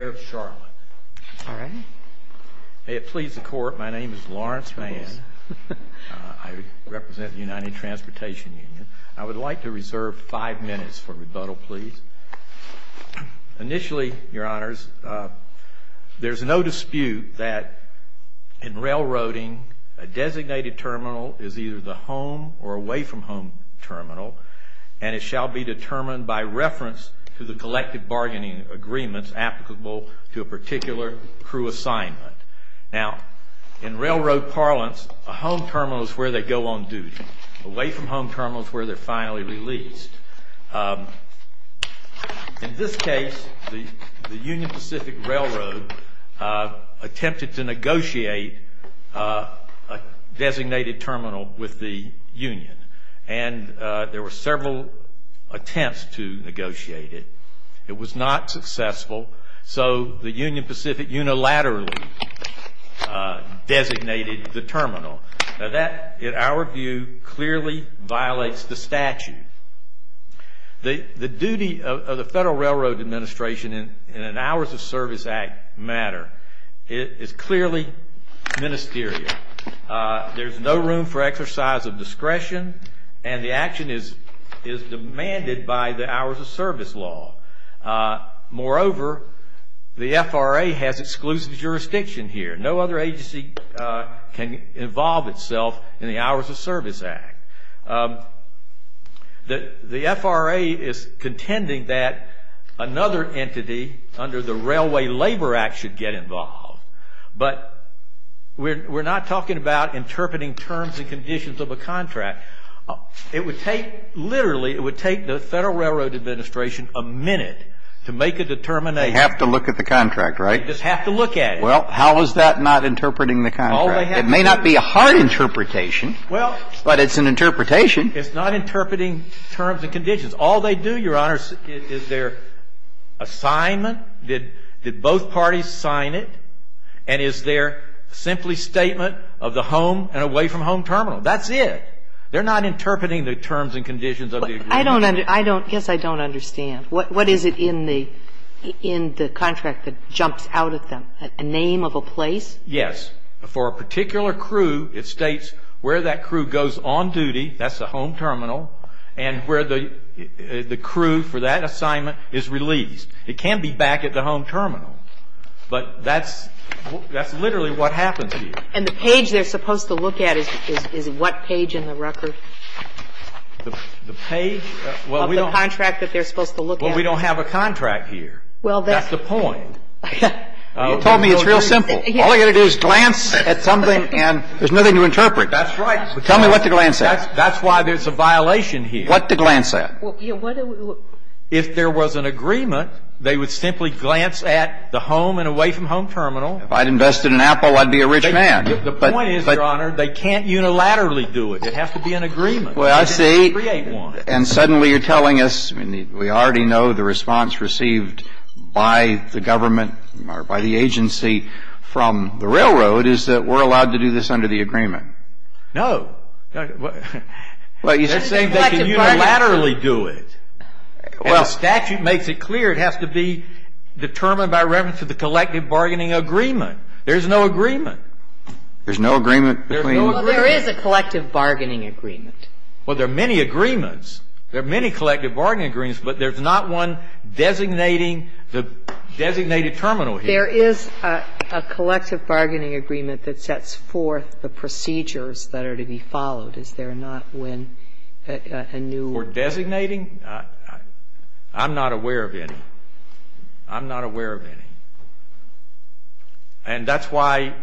May it please the Court, my name is Lawrence Mann. I represent the United Transportation Union. I would like to reserve five minutes for rebuttal, please. Initially, Your Honors, there is no dispute that in railroading, a designated terminal is either the home or away from home terminal, and it shall be determined by reference to the collective bargaining agreements applicable to a particular crew assignment. Now, in railroad parlance, a home terminal is where they go on duty. Away from home terminal is where they're finally released. In this case, the Union Pacific Railroad attempted to negotiate a designated terminal with the Union, and there were several attempts to negotiate it. It was not successful, so the Union Pacific unilaterally designated the terminal. Now, that, in our view, clearly violates the statute. The duty of the Federal Railroad Administration in an Hours of Service Act matter is clearly ministerial. There's no room for exercise of discretion, and the action is demanded by the Hours of Service law. Moreover, the FRA has exclusive jurisdiction here. No other agency can involve itself in the Hours of Service Act. The FRA is contending that another entity under the Railway Labor Act should get involved, but we're not talking about interpreting terms and conditions of a contract. It would take, literally, it would take the Federal Railroad Administration a minute to make a determination. They have to look at the contract, right? They just have to look at it. It may not be a hard interpretation, but it's an interpretation. It's not interpreting terms and conditions. All they do, Your Honor, is their assignment, did both parties sign it, and is their simply statement of the home and away-from-home terminal. That's it. They're not interpreting the terms and conditions of the agreement. I don't understand. What is it in the contract that jumps out at them? A name of a place? Yes. For a particular crew, it states where that crew goes on duty, that's the home terminal, and where the crew for that assignment is released. It can be back at the home terminal, but that's literally what happens here. And the page they're supposed to look at is what page in the record? The page of the contract that they're supposed to look at? Well, we don't have a contract here. That's the point. You told me it's real simple. All they've got to do is glance at something and there's nothing to interpret. That's right. Tell me what to glance at. That's why there's a violation here. What to glance at? If there was an agreement, they would simply glance at the home and away-from-home terminal. If I'd invested in Apple, I'd be a rich man. The point is, Your Honor, they can't unilaterally do it. It has to be an agreement. Well, I see. They have to create one. And suddenly you're telling us, I mean, we already know the response received by the government or by the agency from the railroad is that we're allowed to do this under the agreement. No. They can unilaterally do it. The statute makes it clear it has to be determined by reference to the collective bargaining agreement. There's no agreement. There's no agreement? There is a collective bargaining agreement. Well, there are many agreements. There are many collective bargaining agreements, but there's not one designating the designated terminal here. There is a collective bargaining agreement that sets forth the procedures that are to be followed. Is there not when a new? For designating? I'm not aware of any. I'm not aware of any. And that's why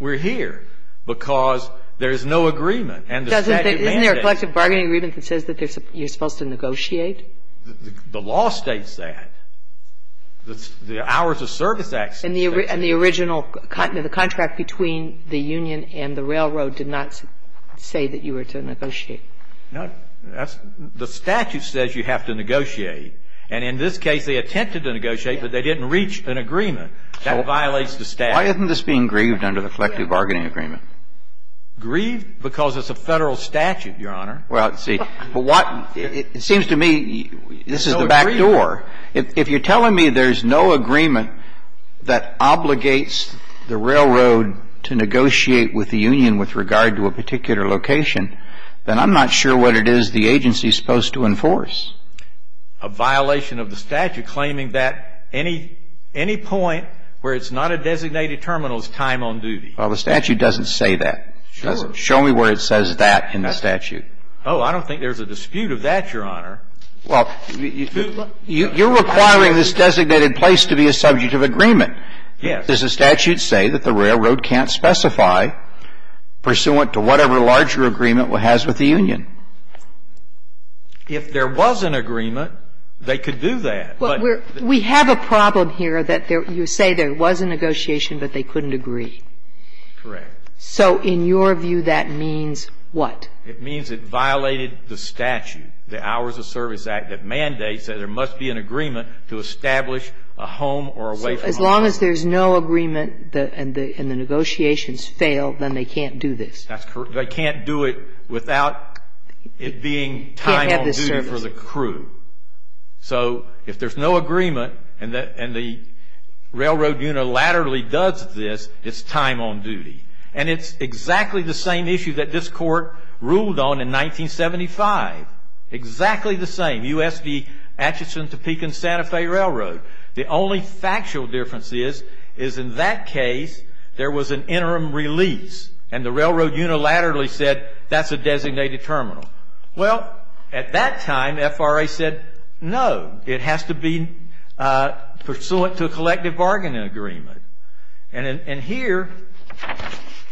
we're here, because there is no agreement. Isn't there a collective bargaining agreement that says that you're supposed to negotiate? The law states that. The Hours of Service Act states that. And the original, the contract between the union and the railroad did not say that you were to negotiate. No. The statute says you have to negotiate. And in this case, they attempted to negotiate, but they didn't reach an agreement. That violates the statute. Why isn't this being grieved under the collective bargaining agreement? Grieved because it's a Federal statute, Your Honor. Well, see, it seems to me this is the back door. If you're telling me there's no agreement that obligates the railroad to negotiate with the union with regard to a particular location, then I'm not sure what it is the agency is supposed to enforce. A violation of the statute claiming that any point where it's not a designated terminal is time on duty. Well, the statute doesn't say that. Sure. Show me where it says that in the statute. Oh, I don't think there's a dispute of that, Your Honor. Well, you're requiring this designated place to be a subject of agreement. Yes. Does the statute say that the railroad can't specify pursuant to whatever larger agreement it has with the union? If there was an agreement, they could do that. Well, we have a problem here that you say there was a negotiation, but they couldn't agree. Correct. So in your view, that means what? It means it violated the statute, the Hours of Service Act, that mandates that there must be an agreement to establish a home or a way from home. So as long as there's no agreement and the negotiations fail, then they can't do this. That's correct. They can't do it without it being time on duty for the crew. So if there's no agreement and the railroad unilaterally does this, it's time on duty. And it's exactly the same issue that this Court ruled on in 1975. Exactly the same, USD Atchison, Topeka, and Santa Fe Railroad. The only factual difference is, is in that case, there was an interim release, and the railroad unilaterally said that's a designated terminal. Well, at that time, the FRA said, no, it has to be pursuant to a collective bargaining agreement. And here,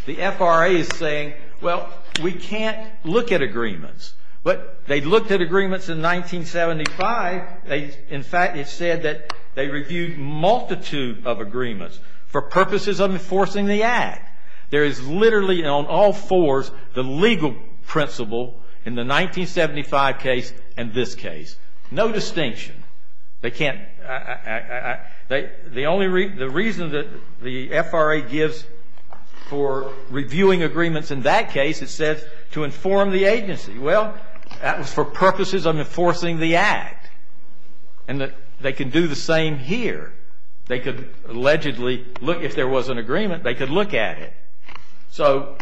the FRA is saying, well, we can't look at agreements. But they looked at agreements in 1975. In fact, it said that they reviewed a multitude of agreements for purposes of enforcing the Act. There is literally, on all fours, the legal principle in the 1975 case and this case. No distinction. They can't, the only, the reason that the FRA gives for reviewing agreements in that case, it says to inform the agency. Well, that was for purposes of enforcing the Act. And they can do the same here. They could allegedly look, if there was an agreement, they could look at it. So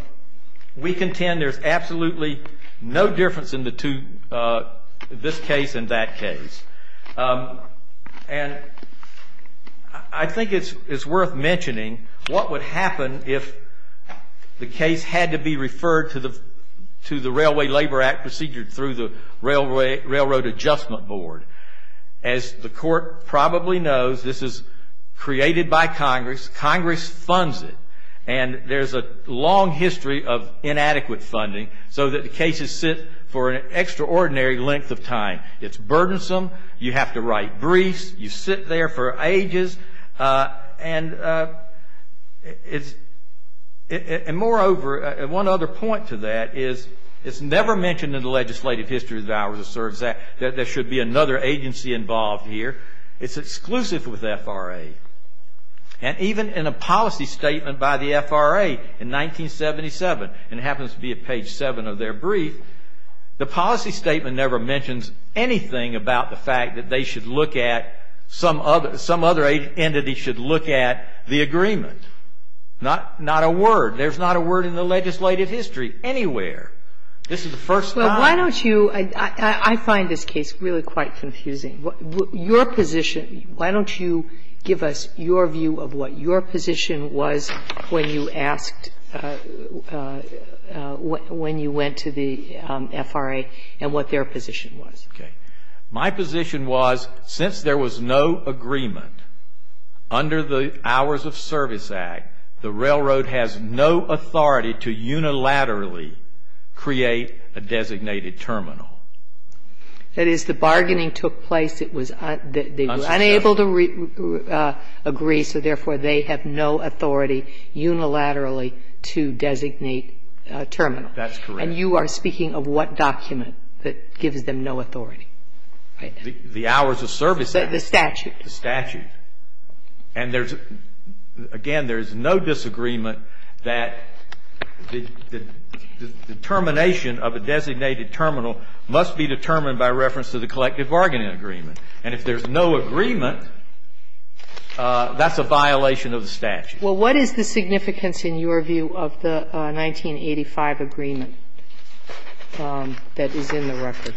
we contend there's absolutely no difference in the two, this case and that case. And I think it's worth mentioning what would happen if the case had to be referred to the Railway Labor Act procedure through the Railroad Adjustment Board. As the Court probably knows, this is created by Congress. Congress funds it. And there's a long history of inadequate funding so that the cases sit for an extraordinary length of time. It's burdensome. You have to write briefs. You sit there for ages. And it's, and moreover, one other point to that is it's never mentioned in the legislative history that ours serves that there should be another agency involved here. It's exclusive with the FRA. And even in a policy statement by the FRA in 1977, and it happens to be at page 7 of their brief, the policy statement never mentions anything about the fact that they should look at, some other entity should look at the agreement. Not a word. There's not a word in the legislative history anywhere. This is the first time. Well, why don't you, I find this case really quite confusing. Your position, why don't you give us your view of what your position was when you asked, when you went to the FRA and what their position was. Okay. My position was since there was no agreement under the Hours of Service Act, the railroad has no authority to unilaterally create a designated terminal. That is, the bargaining took place. They were unable to agree, so therefore they have no authority unilaterally to designate a terminal. That's correct. And you are speaking of what document that gives them no authority? The Hours of Service Act. The statute. The statute. And there's, again, there's no disagreement that the determination of a designated terminal must be determined by reference to the collective bargaining agreement. And if there's no agreement, that's a violation of the statute. Well, what is the significance in your view of the 1985 agreement that is in the record?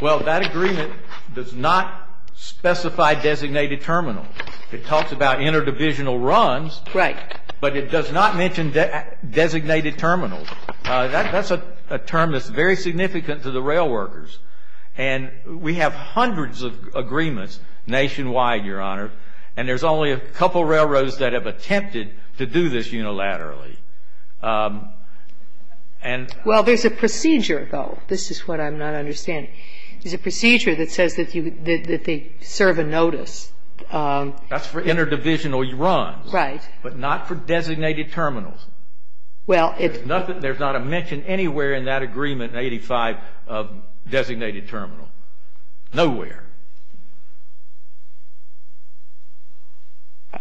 Well, that agreement does not specify designated terminals. It talks about interdivisional runs. Right. But it does not mention designated terminals. That's a term that's very significant to the rail workers. And we have hundreds of agreements nationwide, Your Honor, and there's only a couple of railroads that have attempted to do this unilaterally. Well, there's a procedure, though. This is what I'm not understanding. There's a procedure that says that they serve a notice. That's for interdivisional runs. Right. But not for designated terminals. Well, it's not that there's not a mention anywhere in that agreement in 1985 of designated terminals. Nowhere.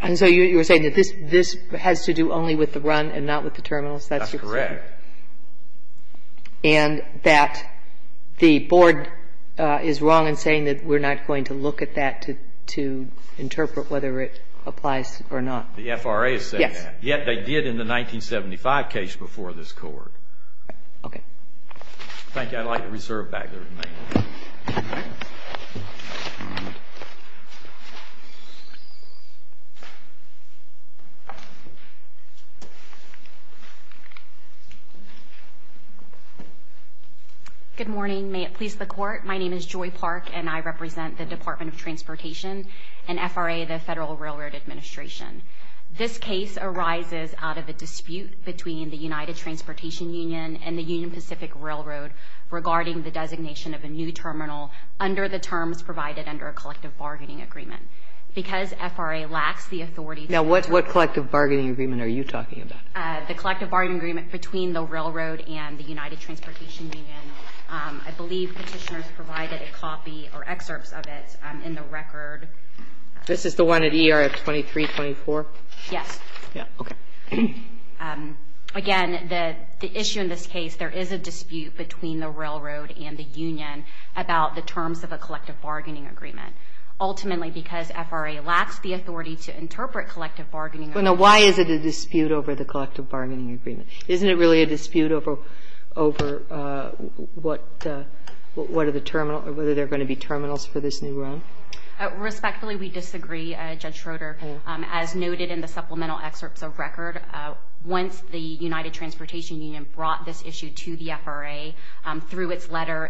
And so you're saying that this has to do only with the run and not with the terminals? That's your concern? That's correct. And that the Board is wrong in saying that we're not going to look at that to interpret whether it applies or not? The FRA has said that. Yes. Yet they did in the 1975 case before this Court. Okay. Thank you. I'd like to reserve back the remainder. Okay. Good morning. May it please the Court. My name is Joy Park, and I represent the Department of Transportation and FRA, the Federal Railroad Administration. This case arises out of a dispute between the United Transportation Union and the Union Pacific Railroad regarding the designation of a new terminal under the terms provided under a collective bargaining agreement. Because FRA lacks the authority to do so. Now, what collective bargaining agreement are you talking about? The collective bargaining agreement between the railroad and the United Transportation Union. I believe Petitioner's provided a copy or excerpts of it in the record. This is the one at ERF 2324? Yes. Yeah. Okay. Again, the issue in this case, there is a dispute between the railroad and the union about the terms of a collective bargaining agreement. Ultimately, because FRA lacks the authority to interpret collective bargaining agreement. Now, why is it a dispute over the collective bargaining agreement? Isn't it really a dispute over what are the terminal, whether there are going to be terminals for this new run? Respectfully, we disagree, Judge Schroeder. As noted in the supplemental excerpts of record, once the United Transportation Union brought this issue to the FRA through its letter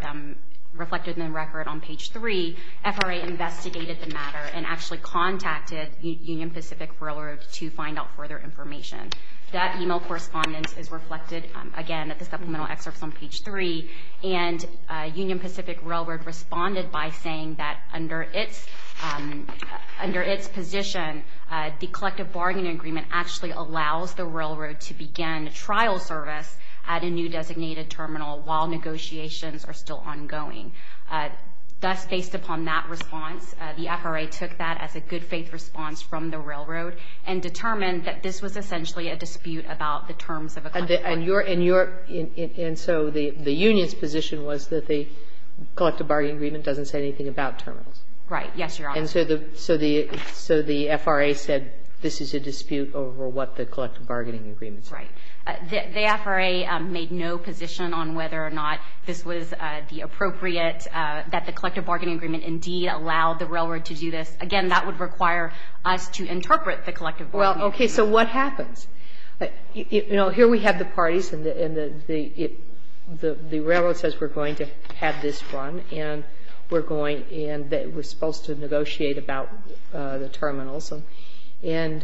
reflected in the record on page 3, FRA investigated the matter and actually contacted Union Pacific Railroad to find out further information. That email correspondence is reflected, again, at the supplemental excerpts on page 3. Union Pacific Railroad responded by saying that under its position, the collective bargaining agreement actually allows the railroad to begin trial service at a new designated terminal while negotiations are still ongoing. Thus, based upon that response, the FRA took that as a good faith response from the railroad and determined that this was essentially a dispute about the terms of a collective bargaining agreement. And so the union's position was that the collective bargaining agreement doesn't say anything about terminals. Right. Yes, Your Honor. And so the FRA said this is a dispute over what the collective bargaining agreement says. Right. The FRA made no position on whether or not this was the appropriate, that the collective bargaining agreement indeed allowed the railroad to do this. Again, that would require us to interpret the collective bargaining agreement. Well, okay. So what happens? You know, here we have the parties and the railroad says we're going to have this run and we're going and we're supposed to negotiate about the terminals and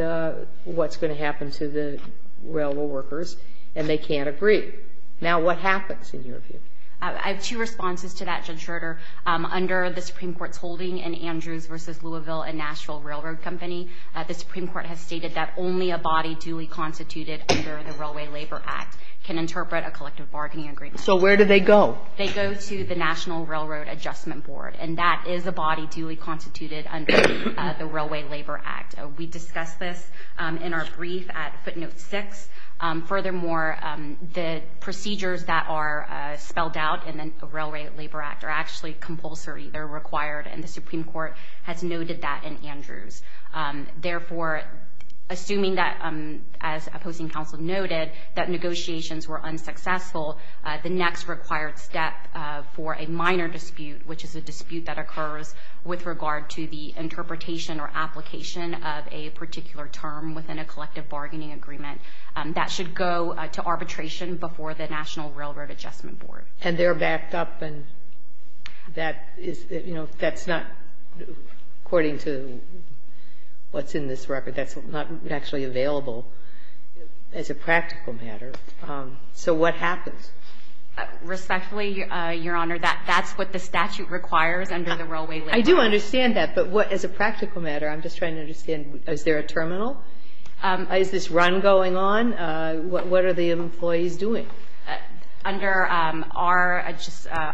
what's going to happen to the railroad workers and they can't agree. Now, what happens in your view? I have two responses to that, Judge Schroeder. Under the Supreme Court's holding in Andrews v. Louisville and Nashville Railroad Company, the Supreme Court has stated that only a body duly constituted under the Railway Labor Act can interpret a collective bargaining agreement. So where do they go? They go to the National Railroad Adjustment Board and that is a body duly constituted under the Railway Labor Act. We discussed this in our brief at footnote six. Furthermore, the procedures that are spelled out in the Railway Labor Act are actually compulsory or required and the Supreme Court has noted that in Andrews. Therefore, assuming that, as opposing counsel noted, that negotiations were unsuccessful, the next required step for a minor dispute, which is a dispute that occurs with regard to the interpretation or application of a particular term within a collective bargaining agreement, that should go to arbitration before the National Railroad Adjustment Board. And they're backed up and that is, you know, that's not, according to what's in this record, that's not actually available as a practical matter. So what happens? Respectfully, Your Honor, that's what the statute requires under the Railway Labor Act. I do understand that. But as a practical matter, I'm just trying to understand, is there a terminal? Is this run going on? What are the employees doing? Under our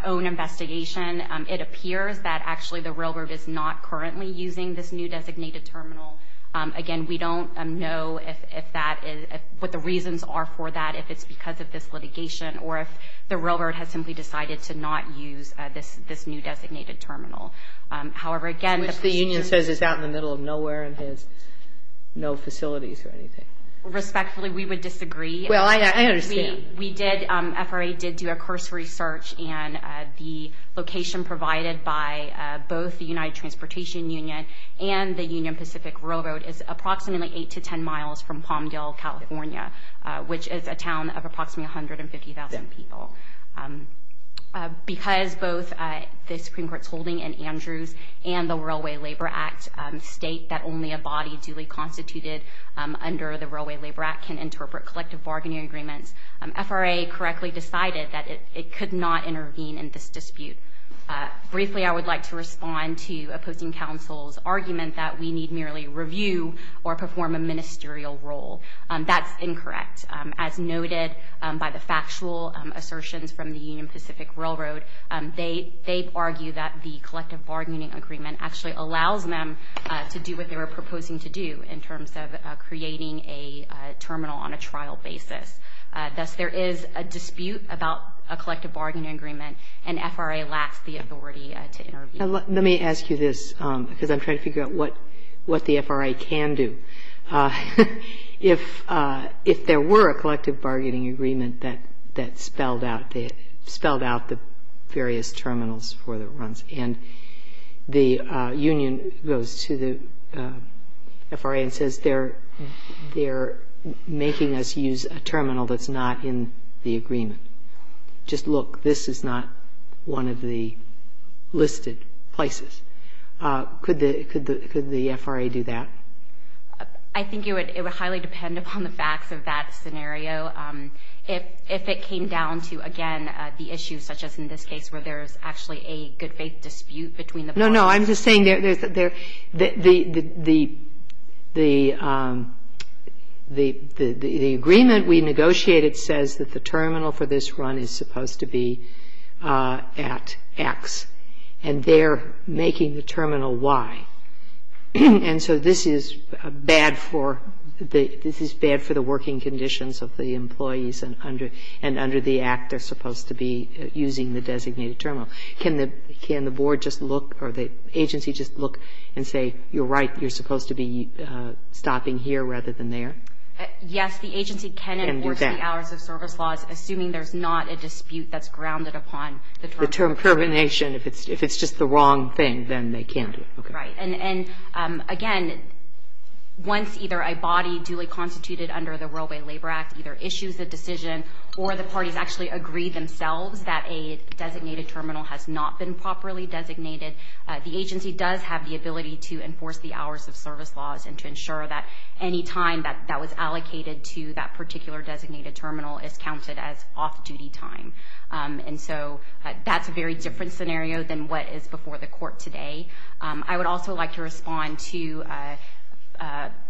own investigation, it appears that actually the railroad is not currently using this new designated terminal. Again, we don't know if that is what the reasons are for that, if it's because of this litigation or if the railroad has simply decided to not use this new designated terminal. However, again, the procedures. Which the union says is out in the middle of nowhere and has no facilities or anything. Respectfully, we would disagree. Well, I understand. We did, FRA did do a cursory search and the location provided by both the United Transportation Union and the Union Pacific Railroad is approximately 8 to 10 miles from Palmdale, California, which is a town of approximately 150,000 people. Because both the Supreme Court's holding in Andrews and the Railway Labor Act state that only a body duly constituted under the Railway Labor Act can interpret collective bargaining agreements, FRA correctly decided that it could not intervene in this dispute. Briefly, I would like to respond to opposing counsel's argument that we need merely review or perform a ministerial role. That's incorrect. As noted by the factual assertions from the Union Pacific Railroad, they argue that the collective bargaining agreement actually allows them to do what they were proposing to do in terms of creating a terminal on a trial basis. Thus, there is a dispute about a collective bargaining agreement and FRA lacks the authority to intervene. Let me ask you this because I'm trying to figure out what the FRA can do. If there were a collective bargaining agreement that spelled out the various terminals for the runs and the union goes to the FRA and says they're making us use a terminal that's not in the agreement. Just look, this is not one of the listed places. Could the FRA do that? I think it would highly depend upon the facts of that scenario. If it came down to, again, the issue such as in this case where there's actually a good faith dispute between the parties. No, no. I'm just saying the agreement we negotiated says that the terminal for this run is supposed to be at X and they're making the terminal Y. And so this is bad for the working conditions of the employees and under the act they're supposed to be using the designated terminal. Can the board just look or the agency just look and say you're right, you're supposed to be stopping here rather than there? Yes, the agency can enforce the hours of service laws assuming there's not a dispute that's grounded upon the termination. The termination. If it's just the wrong thing, then they can't do it. Right. And again, once either a body duly constituted under the Railway Labor Act either issues a decision or the parties actually agree themselves that a designated terminal has not been properly designated, the agency does have the ability to enforce the hours of service laws and to ensure that any time that was allocated to that particular designated terminal is counted as off-duty time. And so that's a very different scenario than what is before the court today. I would also like to respond to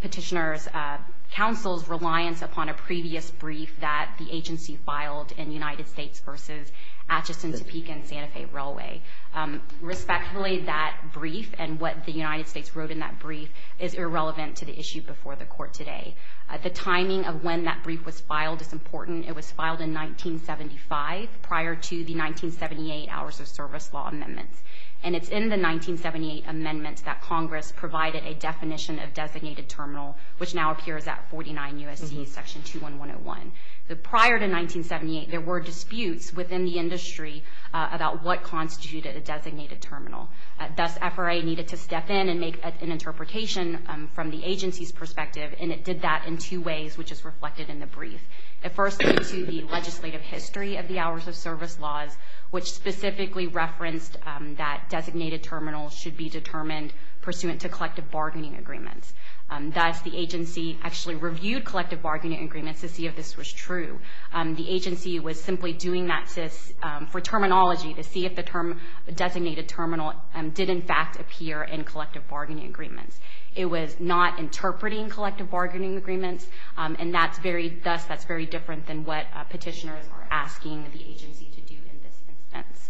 petitioner's counsel's reliance upon a previous brief that the agency filed in United States versus Atchison, Topeka and Santa Fe Railway. Respectfully, that brief and what the United States wrote in that brief is irrelevant to the issue before the court today. The timing of when that brief was filed is important. It was filed in 1975 prior to the 1978 hours of service law amendments. And it's in the 1978 amendments that Congress provided a definition of designated terminal, which now appears at 49 U.S.C. section 21101. Prior to 1978, there were disputes within the industry about what constituted a designated terminal. Thus, FRA needed to step in and make an interpretation from the agency's perspective, and it did to the legislative history of the hours of service laws, which specifically referenced that designated terminals should be determined pursuant to collective bargaining agreements. Thus, the agency actually reviewed collective bargaining agreements to see if this was true. The agency was simply doing that for terminology to see if the term designated terminal did, in fact, appear in collective bargaining agreements. It was not interpreting collective bargaining agreements, and thus, that's very different than what petitioners are asking the agency to do in this instance.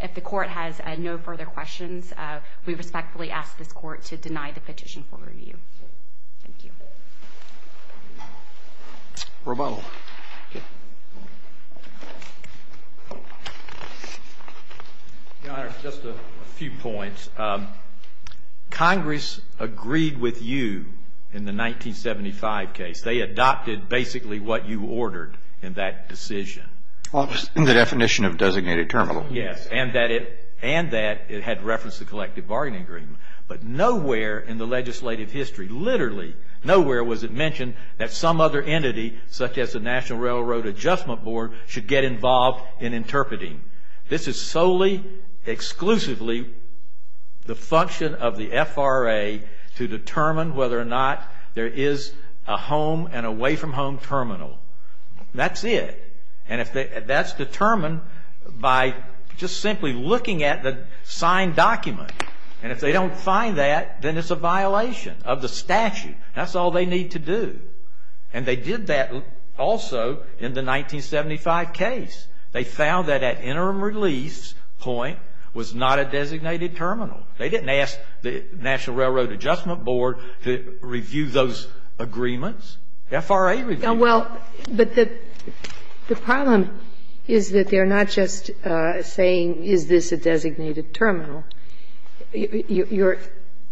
If the court has no further questions, we respectfully ask this court to deny the petition for review. Thank you. Your Honor, just a few points. Congress agreed with you in the 1975 case. They adopted basically what you ordered in that decision. Well, it was in the definition of designated terminal. Yes, and that it had referenced the collective bargaining agreement. But nowhere in the legislative history, literally nowhere was it mentioned that some other entity, such as the National Railroad Adjustment Board, should get involved in interpreting. This is solely, exclusively the function of the FRA to determine whether or not there is a home and away from home terminal. That's it. That's determined by just simply looking at the signed document. And if they don't find that, then it's a violation of the statute. That's all they need to do. And they did that also in the 1975 case. They found that at interim release point was not a designated terminal. They didn't ask the National Railroad Adjustment Board to review those agreements. The FRA reviewed them. Well, but the problem is that they're not just saying is this a designated terminal. You're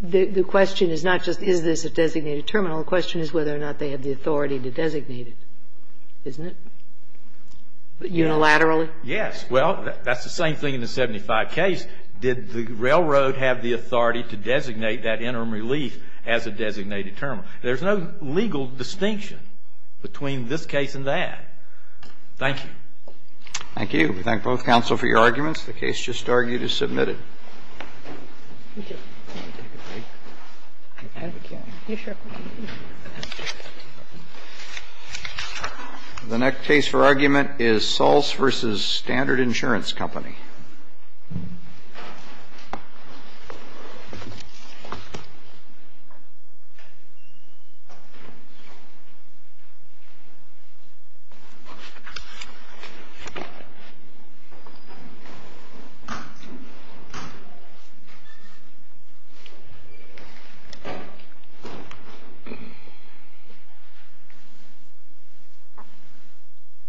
the question is not just is this a designated terminal. The question is whether or not they have the authority to designate it, isn't it, unilaterally? Yes. Well, that's the same thing in the 1975 case. Did the railroad have the authority to designate that interim relief as a designated terminal? There's no legal distinction between this case and that. Thank you. Thank you. We thank both counsel for your arguments. The case just argued is submitted. The next case for argument is Sulz v. Standard Insurance Company. Thank you.